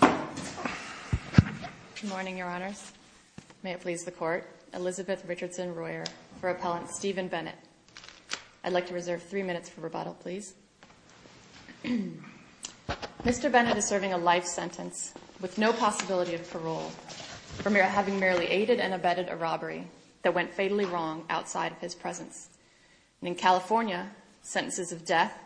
Good morning, Your Honors. May it please the Court, Elizabeth Richardson Royer for Appellant Stephen Bennett. I'd like to reserve three minutes for rebuttal, please. Mr. Bennett is serving a life sentence with no possibility of parole for having merely aided and abetted a robbery that went fatally wrong outside of his presence. In California, sentences of death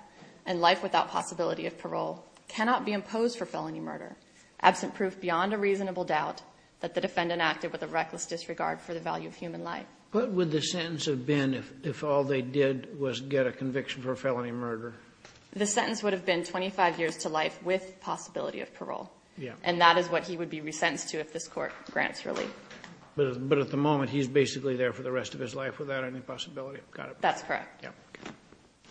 and life without possibility of parole cannot be imposed for felony murder, absent proof beyond a reasonable doubt that the defendant acted with a reckless disregard for the value of human life. What would the sentence have been if all they did was get a conviction for a felony murder? The sentence would have been 25 years to life with possibility of parole. And that is what he would be resentenced to if this Court grants relief. But at the moment, he's basically there for the rest of his life without any possibility. Got it. That's correct.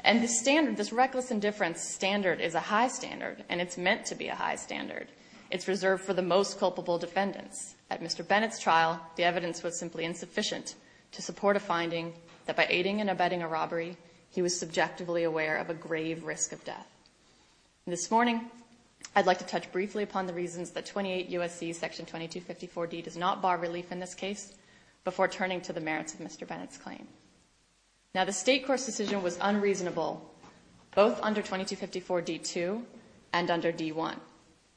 And the standard, this reckless indifference standard is a high standard and it's meant to be a high standard. It's reserved for the most culpable defendants. At Mr. Bennett's trial, the evidence was simply insufficient to support a finding that by aiding and abetting a robbery, he was subjectively aware of a grave risk of death. This morning, I'd like to touch briefly upon the reasons that 28 U.S.C. § 2254d does not bar relief in this was unreasonable, both under § 2254d-2 and under § 2254d-1.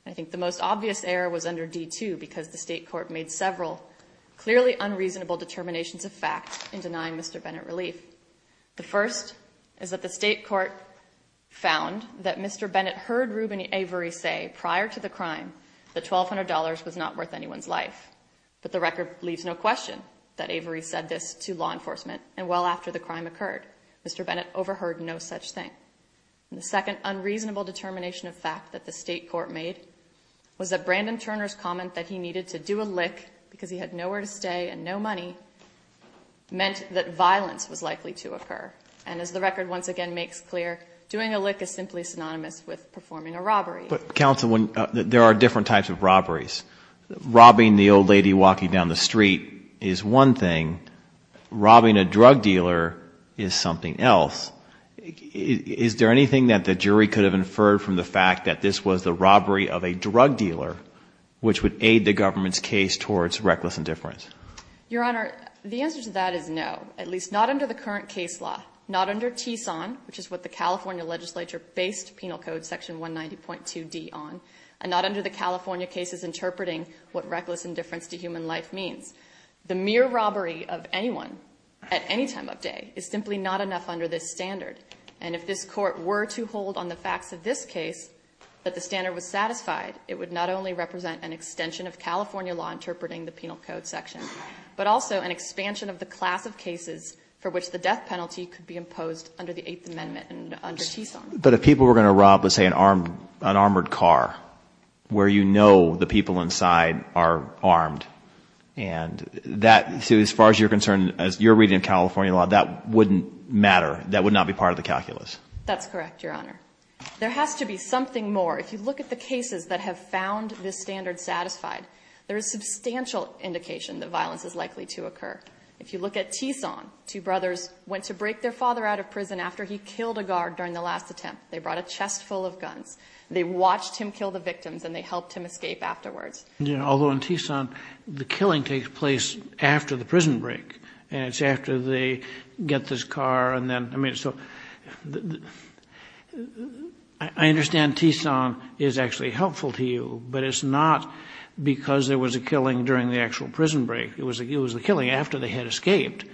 I think the most obvious error was under § 2254d-2 because the State Court made several clearly unreasonable determinations of fact in denying Mr. Bennett relief. The first is that the State Court found that Mr. Bennett heard Reuben Avery say prior to the crime that $1,200 was not worth anyone's life. But the record leaves no question that Avery said this to law enforcement and well after the crime occurred, Mr. Bennett overheard no such thing. The second unreasonable determination of fact that the State Court made was that Brandon Turner's comment that he needed to do a lick because he had nowhere to stay and no money meant that violence was likely to occur. And as the record once again makes clear, doing a lick is simply synonymous with performing a robbery. But counsel, there are different types of robberies. Robbing the old lady walking down the street is one thing. Robbing a drug dealer is something else. Is there anything that the jury could have inferred from the fact that this was the robbery of a drug dealer which would aid the government's case towards reckless indifference? Your Honor, the answer to that is no, at least not under the current case law, not under TSON, which is what the California legislature based Penal Code § 190.2d on, and not under the California cases interpreting what reckless indifference to human life means. The mere robbery of anyone at any time of day is simply not enough under this standard. And if this Court were to hold on the facts of this case that the standard was satisfied, it would not only represent an extension of California law interpreting the Penal Code section, but also an expansion of the class of cases for which the death penalty could be imposed under the Eighth Amendment and under TSON. But if people were going to rob, let's say, an armored car, where you know the people inside are armed, and that, as far as you're concerned, as you're reading in California law, that wouldn't matter. That would not be part of the calculus. That's correct, Your Honor. There has to be something more. If you look at the cases that have found this standard satisfied, there is substantial indication that violence is likely to occur. If you look at TSON, two brothers went to break their father out of a camp. They brought a chest full of guns. They watched him kill the victims, and they helped him escape afterwards. Although in TSON, the killing takes place after the prison break. And it's after they get this car, and then, I mean, so, I understand TSON is actually helpful to you, but it's not because there was a killing during the actual prison break. It was the killing after they had escaped.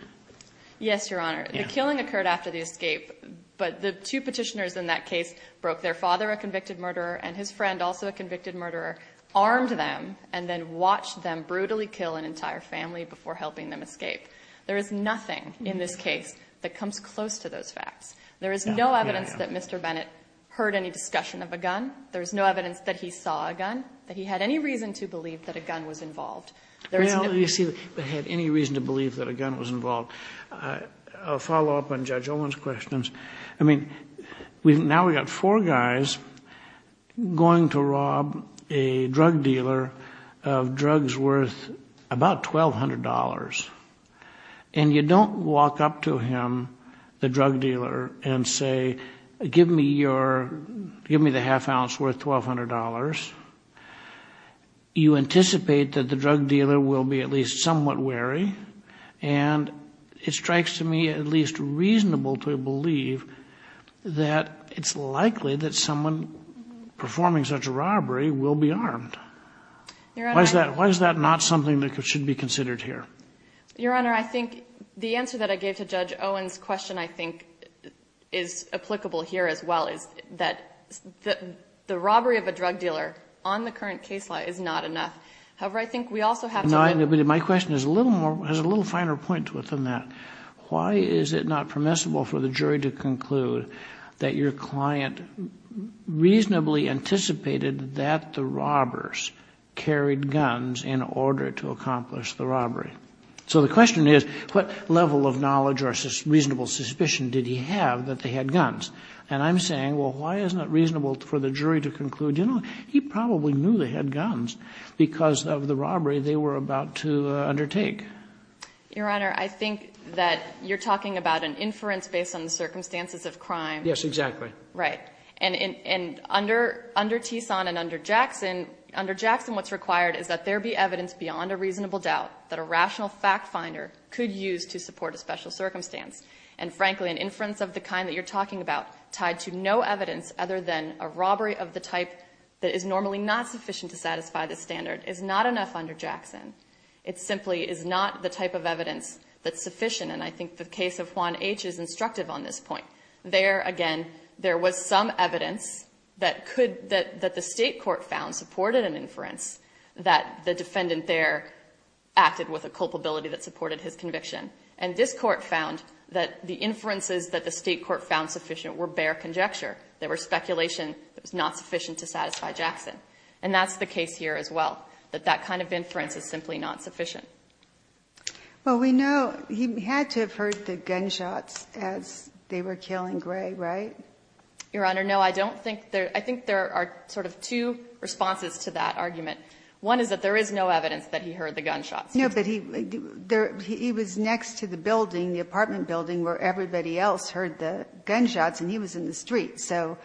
Yes, Your Honor. The killing occurred after the escape, but the two Petitioners in that case broke their father, a convicted murderer, and his friend, also a convicted murderer, armed them, and then watched them brutally kill an entire family before helping them escape. There is nothing in this case that comes close to those facts. There is no evidence that Mr. Bennett heard any discussion of a gun. There is no evidence that he saw a gun, that he had any reason to believe that a gun was involved. Well, you see, if he had any reason to believe that a gun was involved. I'll follow up on Judge Owen's questions. I mean, now we've got four guys going to rob a drug dealer of drugs worth about $1,200. And you don't walk up to him, the drug dealer, and say, give me your, give me the half ounce worth $1,200. You anticipate that the drug dealer will be at least somewhat wary. And it strikes to me at least reasonable to believe that it's likely that someone performing such a robbery will be armed. Why is that not something that should be considered here? Your Honor, I think the answer that I gave to Judge Owen's question, I think, is applicable here as well, is that the robbery of a drug dealer on the current case law is not enough. However, I think we also have to... No, but my question is a little more, has a little finer point within that. Why is it not permissible for the jury to conclude that your client reasonably anticipated that the robbers carried guns in order to accomplish the robbery? So the question is, what level of knowledge or reasonable suspicion did he have that they had guns? And I'm saying, well, why isn't it reasonable for the jury to conclude, you know, he probably knew they had guns because of the robbery they were about to undertake? Your Honor, I think that you're talking about an inference based on the circumstances of crime. Yes, exactly. Right. And under Tison and under Jackson, under Jackson what's required is that there be evidence beyond a reasonable doubt that a rational fact finder could use to support a special circumstance. And frankly, an inference of the kind that you're talking about tied to no evidence other than a robbery of the type that is normally not sufficient to satisfy the standard is not enough under Jackson. It simply is not the type of evidence that's sufficient, and I think the case of Juan H. is instructive on this point. There, again, there was some evidence that could, that the state court found supported an inference that the defendant there acted with a culpability that supported his conviction. And this court found that the inferences that the state court found sufficient were bare conjecture. They were speculation that was not sufficient to satisfy Jackson. And that's the case here as well, that that kind of inference is simply not sufficient. Well, we know he had to have heard the gunshots as they were killing Gray, right? Your Honor, no, I don't think there, I think there are sort of two responses to that argument. One is that there is no evidence that he heard the gunshots. No, but he, there, he was next to the building, the apartment building where everybody else heard the gunshots and he was in the street. So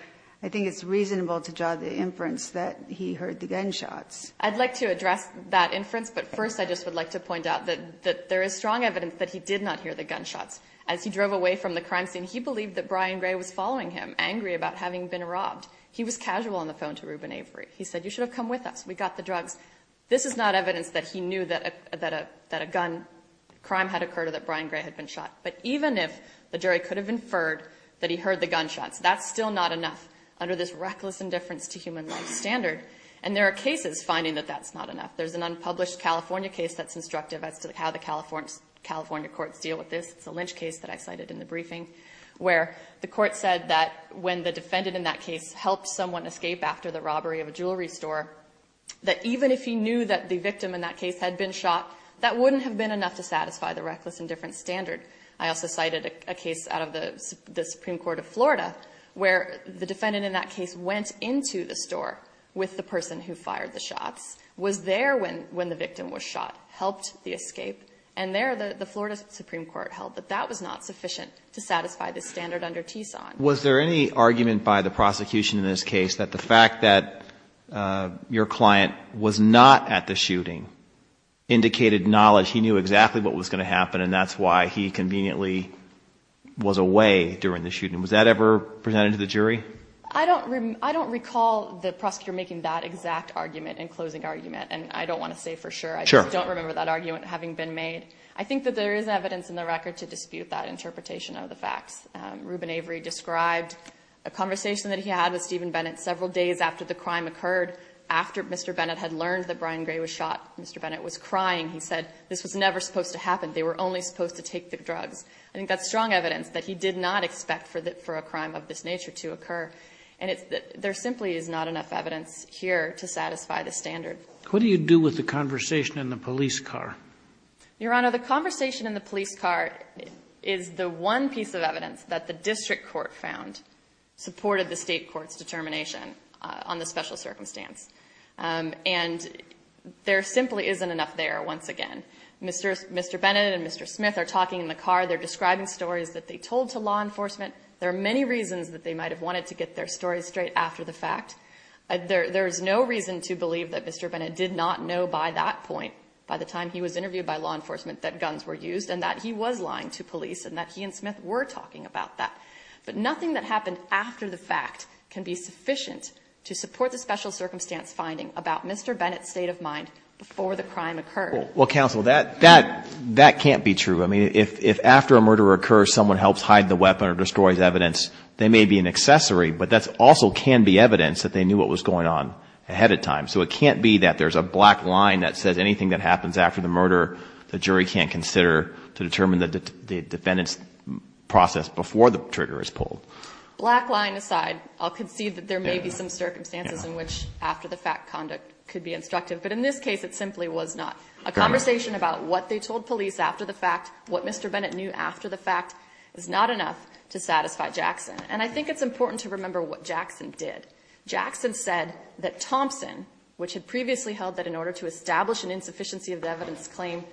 I think it's reasonable to draw the inference that he heard the gunshots. I'd like to address that inference, but first I just would like to point out that there is strong evidence that he did not hear the gunshots. As he drove away from the crime scene, he believed that Brian Gray was following him, angry about having been robbed. He was like, come with us, we got the drugs. This is not evidence that he knew that a, that a, that a gun crime had occurred or that Brian Gray had been shot. But even if the jury could have inferred that he heard the gunshots, that's still not enough under this reckless indifference to human life standard. And there are cases finding that that's not enough. There's an unpublished California case that's instructive as to how the California courts deal with this. It's a Lynch case that I cited in the briefing where the court said that when the defendant in that case helped someone escape after the robbery of a jewelry store, that even if he knew that the victim in that case had been shot, that wouldn't have been enough to satisfy the reckless indifference standard. I also cited a case out of the Supreme Court of Florida where the defendant in that case went into the store with the person who fired the shots, was there when, when the victim was shot, helped the escape. And there the Florida Supreme Court held that that was not sufficient to satisfy the standard under Was there any argument by the prosecution in this case that the fact that your client was not at the shooting indicated knowledge, he knew exactly what was going to happen and that's why he conveniently was away during the shooting. Was that ever presented to the jury? I don't, I don't recall the prosecutor making that exact argument in closing argument. And I don't want to say for sure. I just don't remember that argument having been made. I think that there is evidence in the record to dispute that interpretation of the facts. Reuben Avery described a conversation that he had with Stephen Bennett several days after the crime occurred. After Mr. Bennett had learned that Brian Gray was shot, Mr. Bennett was crying. He said, this was never supposed to happen. They were only supposed to take the drugs. I think that's strong evidence that he did not expect for the, for a crime of this nature to occur. And it's that there simply is not enough evidence here to satisfy the standard. What do you do with the conversation in the police car? Your Honor, the conversation in the police car is the one piece of evidence that the district court found supported the state court's determination on the special circumstance. And there simply isn't enough there, once again. Mr. Bennett and Mr. Smith are talking in the car. They're describing stories that they told to law enforcement. There are many reasons that they might have wanted to get their stories straight after the fact. There is no reason to believe that Mr. Bennett did not know by that point, by the time he was interviewed by law enforcement, that guns were used and that he was lying to police and that he and Smith were talking about that. But nothing that happened after the fact can be sufficient to support the special circumstance finding about Mr. Bennett's state of mind before the crime occurred. Well, counsel, that, that, that can't be true. I mean, if, if after a murder occurs, someone helps hide the weapon or destroys evidence, they may be an accessory, but that also can be evidence that they knew what was going on ahead of time. So it can't be that there's a black line that says anything that happens after the murder, the jury can't consider to determine the defendant's process before the trigger is pulled. Black line aside, I'll concede that there may be some circumstances in which after the fact conduct could be instructive. But in this case, it simply was not. A conversation about what they told police after the fact, what Mr. Bennett knew after the fact, is not enough to satisfy Jackson. And I think it's important to remember what Jackson did. Jackson said that Thompson, which had previously held that in order to establish an insufficiency of the evidence claim,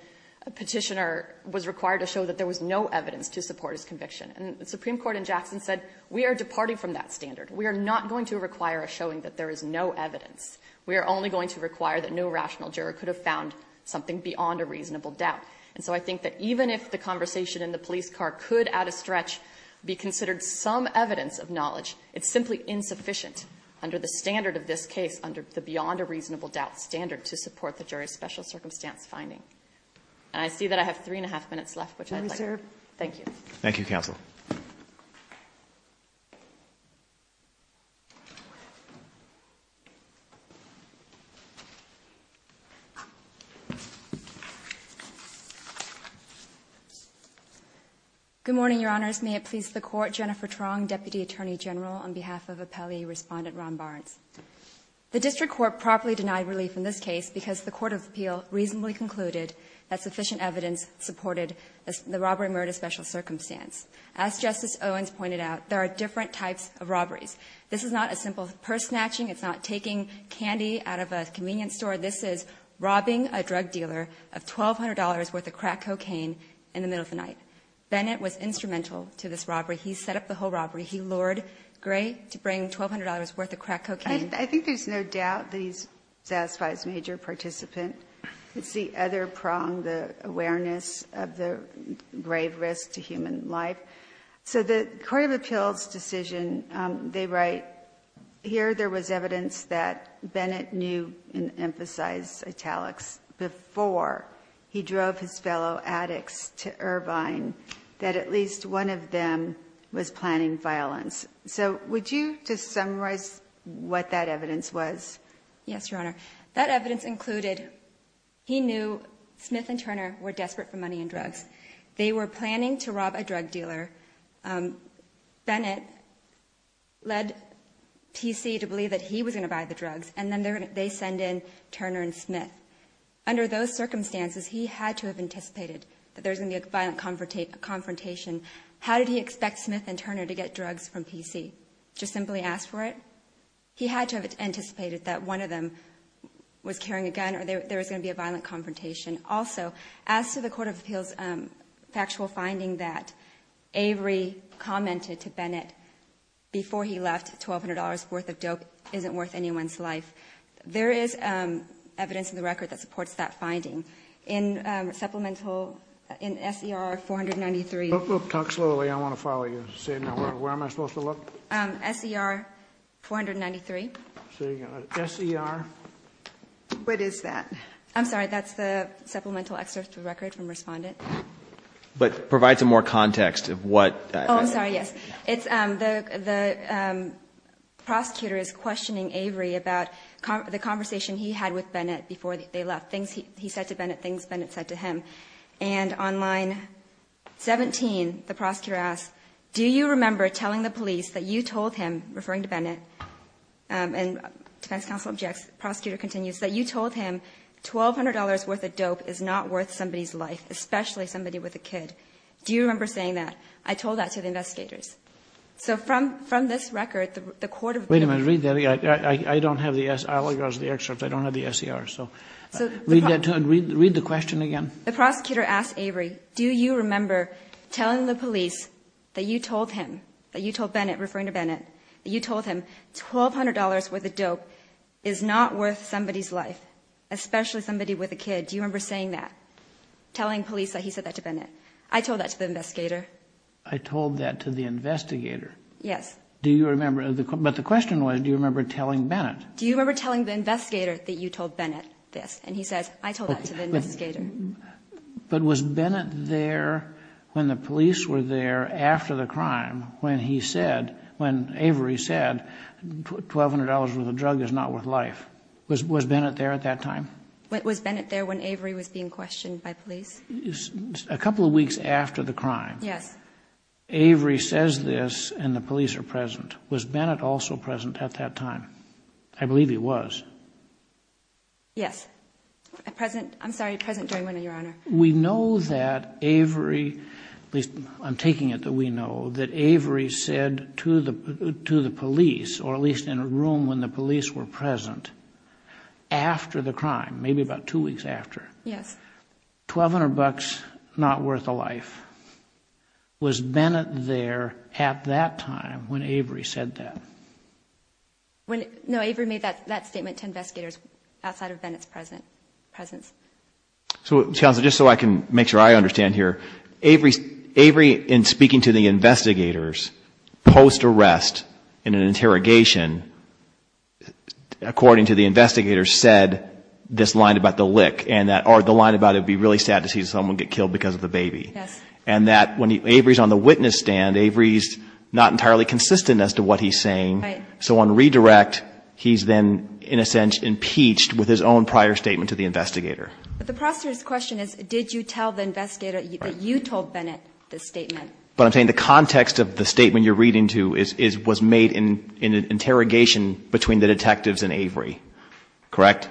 a petitioner was required to show that there was no evidence to support his conviction. And the Supreme Court in Jackson said, we are departing from that standard. We are not going to require a showing that there is no evidence. We are only going to require that no rational juror could have found something beyond a reasonable doubt. And so I think that even if the conversation in the police car could, out of stretch, be considered some evidence of knowledge, it's simply insufficient under the standard of this case, under the beyond a reasonable doubt standard to support the jury's special circumstance finding. And I see that I have three and a half minutes left, which I'd like to thank you. Thank you, counsel. Good morning, Your Honors. May it please the Court, Jennifer Truong, Deputy Attorney General, on behalf of Appellee Respondent Ron Barnes. The District Court properly denied relief in this case because the Court of Appeal reasonably concluded that sufficient evidence supported the robbery murder special circumstance. As Justice Owens pointed out, there are different types of robberies. This is not a simple purse snatching. It's not taking candy out of a bag with a crack cocaine in the middle of the night. Bennett was instrumental to this robbery. He set up the whole robbery. He lured Gray to bring $1,200 worth of crack cocaine. I think there's no doubt that he satisfies major participant. It's the other prong, the awareness of the grave risk to human life. So the Court of Appeal's decision, they write, here there was evidence that Bennett knew and emphasized italics before he drove his fellow addicts to Irvine, that at least one of them was planning violence. So would you just summarize what that evidence was? Yes, Your Honor. That evidence included he knew Smith and Turner were desperate for money and drugs. They were planning to rob a drug dealer. Bennett led PC to believe that he was going to buy the drugs. And then they send in Turner and Smith. Under those circumstances, he had to have anticipated that there was going to be a violent confrontation. How did he expect Smith and Turner to get drugs from PC? Just simply ask for it? He had to have anticipated that one of them was carrying a gun or there was going to be a violent confrontation. Also, as to the Court of Appeal's factual finding that Avery commented to Bennett before he left, $1,200 worth of dope isn't worth anyone's life. There is evidence in the record that supports that finding. In supplemental, in S.E.R. 493. Talk slowly. I want to follow you. Where am I supposed to look? S.E.R. 493. S.E.R.? What is that? I'm sorry. That's the supplemental excerpt of the record from Respondent. But provide some more context of what that is. I'm sorry, yes. The prosecutor is questioning Avery about the conversation he had with Bennett before they left. Things he said to Bennett, things Bennett said to him. And on line 17, the prosecutor asks, do you remember telling the police that you told him, referring to Bennett, and defense counsel objects, prosecutor continues, that you told him $1,200 worth of dope is not worth somebody's life, especially somebody with a kid. Do you remember saying that? I told that to the investigators. So from this record, the court of appeals... Wait a minute. Read that again. I don't have the S.E.R. I'll use the excerpt. I don't have the S.E.R. So read the question again. The prosecutor asks Avery, do you remember telling the police that you told him, that you told Bennett, referring to Bennett, that you told him $1,200 worth of dope is not worth somebody's life, especially somebody with a kid. Do you remember saying that? Telling the police that he said that to Bennett. I told that to the investigator. I told that to the investigator. Yes. Do you remember? But the question was, do you remember telling Bennett? Do you remember telling the investigator that you told Bennett this? And he says, I told that to the investigator. But was Bennett there when the police were there after the crime when he said, when Avery said, $1,200 worth of drug is not worth life? Was Bennett there at that time? Was Bennett there when Avery was being questioned by police? A couple of weeks after the crime. Yes. Avery says this and the police are present. Was Bennett also present at that time? I believe he was. Yes. Present, I'm sorry, present during your honor. We know that Avery, at least I'm taking it that we know, that Avery said to the police, or at least in a room when the police were present, after the crime, maybe about two weeks after. Yes. $1,200 not worth a life. Was Bennett there at that time when Avery said that? No, Avery made that statement to investigators outside of Bennett's presence. So counsel, just so I can make sure I understand here, Avery in speaking to the investigators post-arrest in an interrogation, according to the investigators, said this line about the lick, or the line about it would be really sad to see someone get killed because of the baby. Yes. And that when Avery's on the witness stand, Avery's not entirely consistent as to what he's saying. Right. So on redirect, he's then, in a sense, impeached with his own prior statement to the investigator. But the process question is, did you tell the investigators that the statement you're reading to was made in an interrogation between the detectives and Avery? Correct?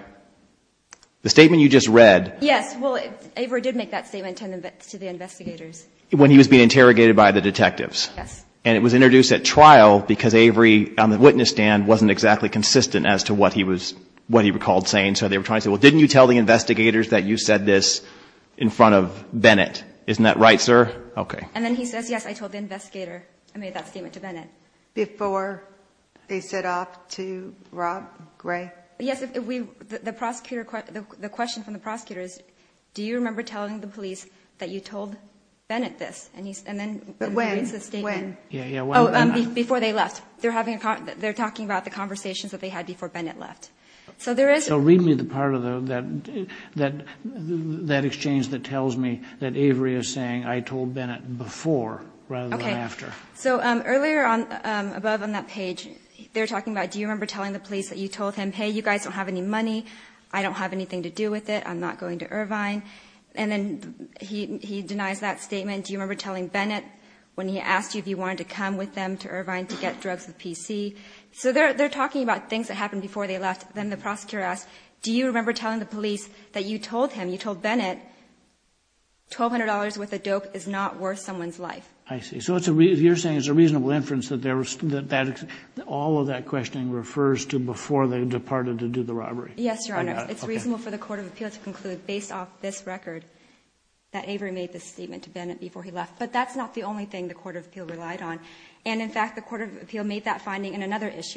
The statement you just read. Yes. Well, Avery did make that statement to the investigators. When he was being interrogated by the detectives. Yes. And it was introduced at trial because Avery, on the witness stand, wasn't exactly consistent as to what he recalled saying. So they were trying to say, well, didn't you tell the investigators that you said this in front of Bennett? Isn't that right, sir? Okay. And then he says, yes, I told the investigator I made that statement to Bennett. Before they set off to rob Gray? Yes. If we, the prosecutor, the question from the prosecutor is, do you remember telling the police that you told Bennett this? And he's, and then when he reads the statement. When? Before they left. They're having a con, they're talking about the conversations that they had before Bennett left. So there is. So read me the part of that, that, that exchange that tells me that Avery is saying, I told Bennett before rather than after. So earlier on above on that page, they're talking about, do you remember telling the police that you told him, Hey, you guys don't have any money. I don't have anything to do with it. I'm not going to Irvine. And then he, he denies that statement. Do you remember telling Bennett when he asked you if you wanted to come with them to Irvine to get drugs with PC? So they're, they're talking about things that happened before they left. Then the prosecutor asked, do you remember telling the police that you told him you told Bennett $1,200 with a dope is not worth someone's life. I see. So it's a, you're saying it's a reasonable inference that there was that, that all of that questioning refers to before they departed to do the robbery. Yes, Your Honor. It's reasonable for the court of appeals to conclude based off this record that Avery made this statement to Bennett before he left, but that's not the only thing the court of appeal relied on. And in fact, the court of appeal made that finding in another evidence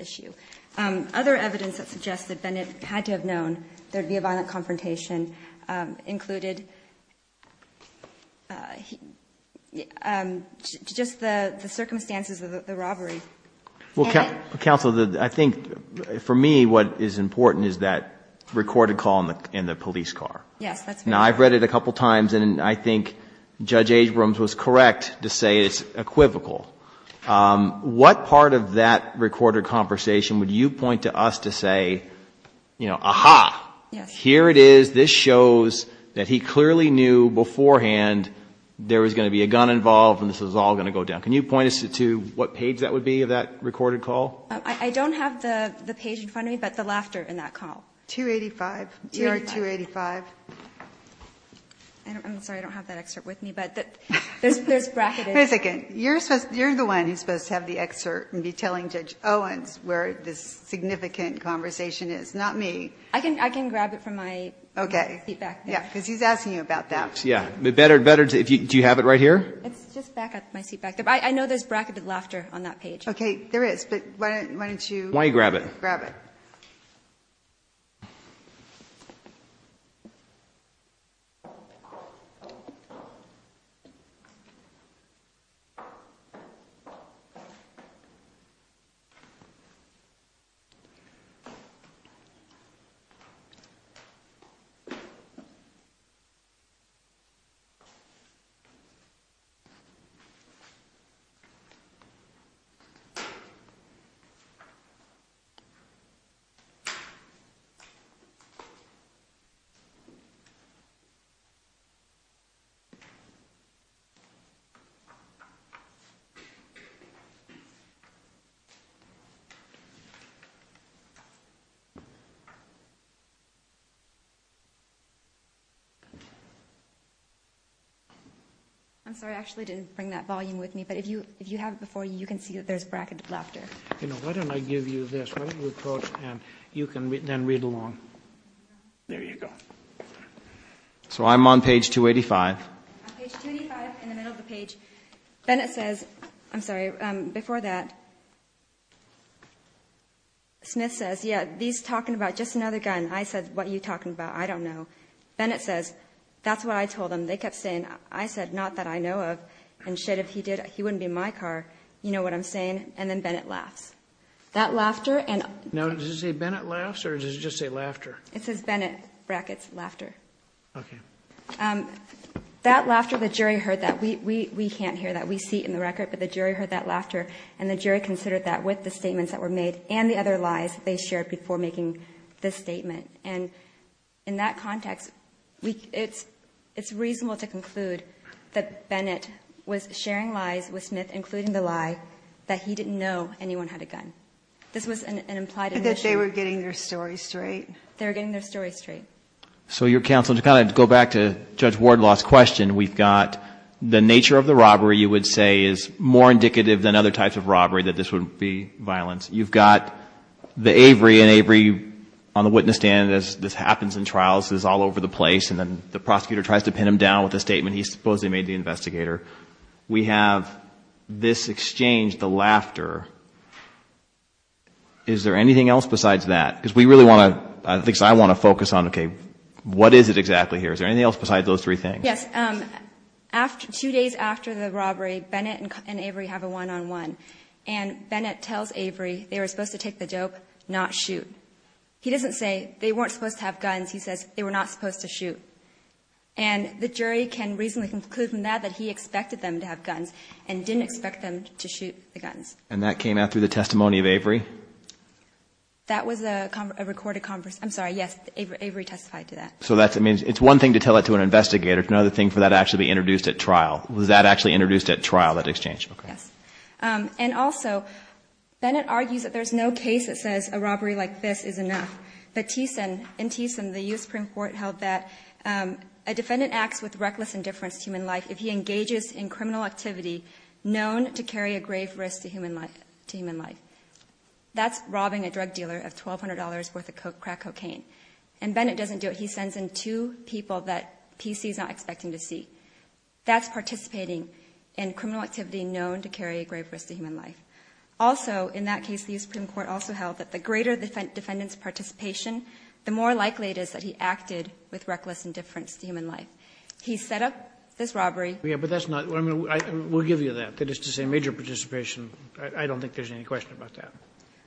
issue. Other evidence that suggested Bennett had to have known there'd be a violent confrontation included just the circumstances of the robbery. Counselor, I think for me, what is important is that recorded call in the police car. Yes, that's right. Now I've read it a couple of times and I think Judge Agbrams was correct to say it's equivocal. Um, what part of that recorded conversation would you point to us to say, you know, aha, here it is. This shows that he clearly knew beforehand there was going to be a gun involved and this was all going to go down. Can you point us to what page that would be of that recorded call? I don't have the page in front of me, but the laughter in that call. 285, 285. I'm sorry, I don't have that excerpt with me, but there's bracket. You're supposed, you're the one who's supposed to have the excerpt and be telling Judge Owens where this significant conversation is, not me. I can, I can grab it from my feedback. Yeah, because he's asking you about that. Yeah, but better, better if you, do you have it right here? It's just back at my seat back there. I know there's bracketed laughter on that page. Okay, there is, but why don't you. Why don't you grab it? Grab it. Okay. I'm sorry, I actually didn't bring that volume with me, but if you, if you have it before you, you can see that there's bracketed laughter. You know, why don't I give you this? Why don't you approach, and you can then read along. There you go. So I'm on page 285. On page 285, in the middle of the page, Bennett says, I'm sorry, before that, Smith says, yeah, he's talking about just another gun. I said, what are you talking about? I don't know. Bennett says, that's what I told him. They kept saying, I said, not that I know of. And shit, if he did, he wouldn't be in my car. You know what I'm saying? And then Bennett laughs. That laughter, and. Now, does it say Bennett laughs, or does it just say laughter? It says Bennett, brackets, laughter. Okay. That laughter, the jury heard that. We, we, we can't hear that. We see it in the record, but the jury heard that laughter. And the jury considered that with the statements that were made and the other lies they shared before making this statement. And in that context, we, it's, it's reasonable to conclude that Bennett was sharing lies with Smith, including the lie that he didn't know anyone had a gun. This was an implied admission. That they were getting their story straight. They were getting their story straight. So your counsel, to kind of go back to Judge Wardlaw's question, we've got the nature of the robbery you would say is more indicative than other types of robbery that this would be violence. You've got the Avery and Avery on the witness stand as this happens in trials is all over the place. And then the prosecutor tries to pin him down with a statement. He supposedly made the investigator. We have this exchange, the laughter. Is there anything else besides that? Because we really want to, I think I want to focus on, okay, what is it exactly here? Is there anything else besides those three things? Yes, after two days after the robbery, Bennett and Avery have a one-on-one and Bennett tells Avery they were supposed to take the dope, not shoot. He doesn't say they weren't supposed to have guns. He says they were not supposed to shoot. And the jury can reasonably conclude from that that he expected them to have guns and didn't expect them to shoot the guns. And that came out through the testimony of Avery? That was a recorded conference. I'm sorry. Yes, Avery testified to that. So that's, I mean, it's one thing to tell it to an investigator. It's another thing for that to actually be introduced at trial. Was that actually introduced at trial, that exchange? Yes. And also Bennett argues that there's no case that says a robbery like this is enough. But in Teeson, the U.S. Supreme Court held that a defendant acts with reckless indifference to human life if he engages in criminal activity known to carry a grave risk to human life. That's robbing a drug dealer of $1,200 worth of crack cocaine. And Bennett doesn't do it. He sends in two people that PC's not expecting to see. That's participating in criminal activity known to carry a grave risk to human life. Also, in that case, the U.S. Supreme Court also held that the greater the defendant's participation, the more likely it is that he acted with reckless indifference to human life. He set up this robbery. Yeah, but that's not, I mean, we'll give you that. That is to say, major participation, I don't think there's any question about that.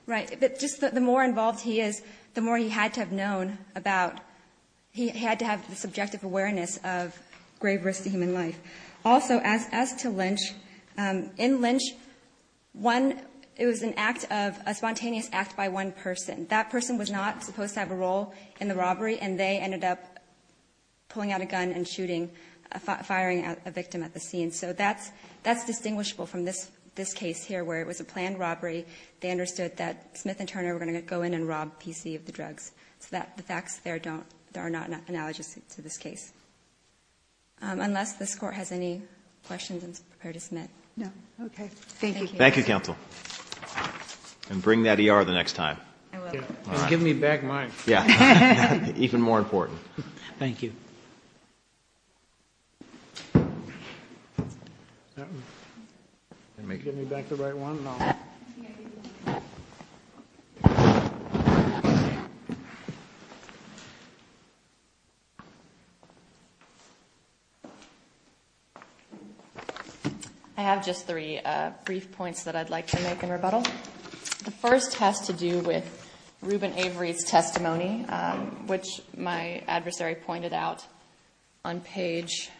Right. But just the more involved he is, the more he had to have known about, he had to have the subjective awareness of grave risk to human life. Also, as to Lynch, in Lynch, one, it was an act of, a spontaneous act by one person. That person was not supposed to have a role in the robbery, and they ended up pulling out a gun and shooting, firing a victim at the scene. So that's distinguishable from this case here, where it was a planned robbery. They understood that Smith and Turner were going to go in and rob PC of the drugs. So the facts there are not analogous to this case. Unless this court has any questions, I'm prepared to submit. No. Okay. Thank you. Thank you, counsel. And bring that ER the next time. I will. Just give me back mine. Yeah, even more important. Thank you. Give me back the right one, and I'll. I have just three brief points that I'd like to make in rebuttal. The first has to do with Ruben Avery's testimony, which my adversary pointed out on page.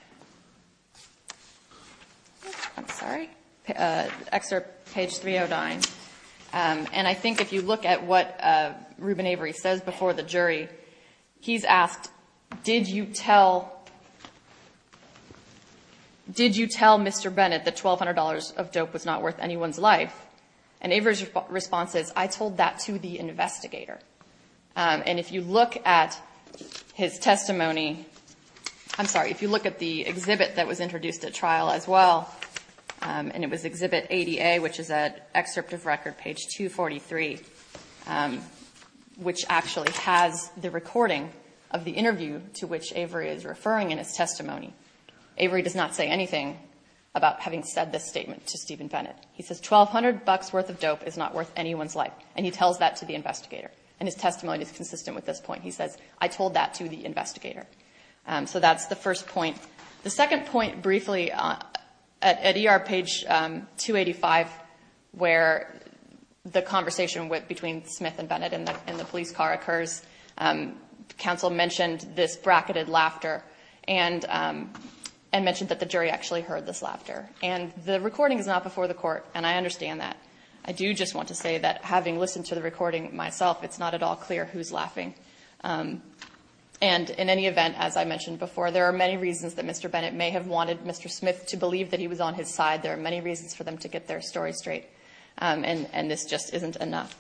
I'm sorry. Excerpt page 309. And I think if you look at what Ruben Avery says before the jury, he's asked, did you tell Mr. Bennett that $1,200 of dope was not worth anyone's life? And Avery's response is, I told that to the investigator. And if you look at his testimony, I'm sorry. If you look at the exhibit that was introduced at trial as well, and it was exhibit ADA, which is an excerpt of record page 243, which actually has the recording of the interview to which Avery is referring in his testimony, Avery does not say anything about having said this statement to Stephen Bennett. He says, $1,200 worth of dope is not worth anyone's life. And he tells that to the investigator. And his testimony is consistent with this point. He says, I told that to the investigator. So that's the first point. The second point, briefly, at ER page 285, where the conversation between Smith and Bennett in the police car occurs, counsel mentioned this bracketed laughter and mentioned that the jury actually heard this laughter. And the recording is not before the court. And I understand that. I do just want to say that having listened to the recording myself, it's not at all clear who's laughing. And in any event, as I mentioned before, there are many reasons that Mr. Bennett may have wanted Mr. Smith to believe that he was on his side. There are many reasons for them to get their story straight. And this just isn't enough.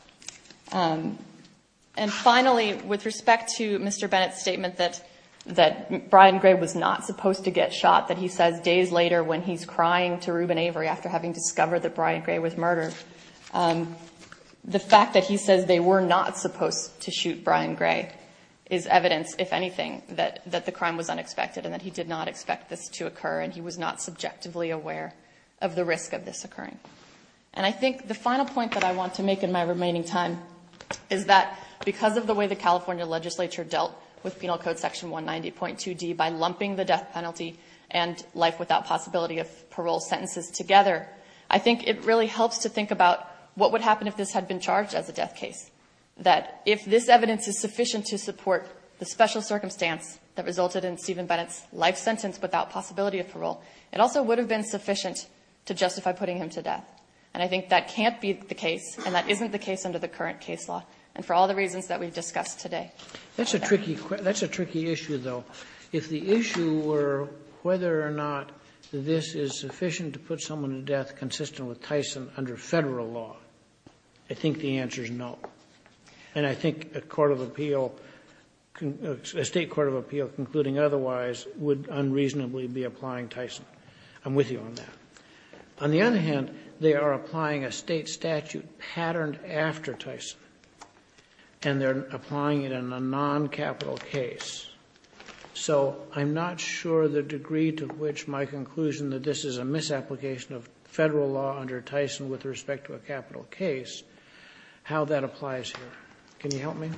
And finally, with respect to Mr. Bennett's statement that Brian Gray was not supposed to get shot, that he says days later when he's crying to Reuben Avery after having discovered that Brian Gray was murdered, the fact that he says they were not supposed to shoot Brian Gray is evidence, if anything, that the crime was unexpected and that he did not expect this to occur. And he was not subjectively aware of the risk of this occurring. And I think the final point that I want to make in my remaining time is that because of the way the California legislature dealt with Penal Code Section 190.2d by lumping the death penalty and life without possibility of parole sentences together, I think it really helps to think about what would happen if this had been charged as a death case. That if this evidence is sufficient to support the special circumstance that resulted in Stephen Bennett's life sentence without possibility of parole, it also would have been sufficient to justify putting him to death. And I think that can't be the case, and that isn't the case under the current case law. And for all the reasons that we've discussed today. That's a tricky issue, though. If the issue were whether or not this is sufficient to put someone to death consistent with Tyson under federal law, I think the answer is no. And I think a court of appeal, a state court of appeal, concluding otherwise, would unreasonably be applying Tyson. I'm with you on that. On the other hand, they are applying a state statute patterned after Tyson. And they're applying it in a non-capital case. So I'm not sure the degree to which my conclusion that this is a misapplication of federal law under Tyson with respect to a capital case, how that applies here. Can you help me?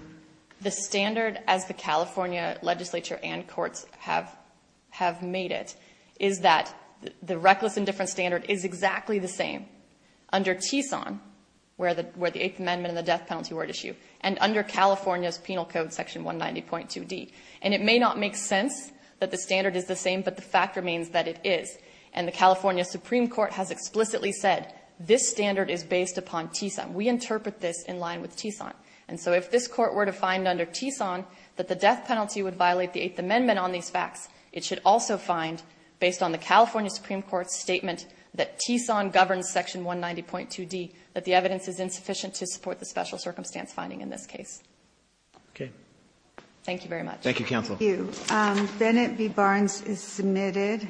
The standard, as the California legislature and courts have made it, is that the reckless indifference standard is exactly the same under TSON, where the Eighth Amendment and the death penalty were at issue, and under California's penal code section 190.2d. And it may not make sense that the standard is the same, but the fact remains that it is. And the California Supreme Court has explicitly said, this standard is based upon TSON. We interpret this in line with TSON. And so if this court were to find under TSON that the death penalty would violate the Eighth Amendment on these facts, it should also find, based on the California Supreme Court's statement that TSON governs section 190.2d, that the evidence is insufficient to support the special circumstance finding in this case. Okay. Thank you very much. Thank you, counsel. Thank you. Bennett v. Barnes is submitted.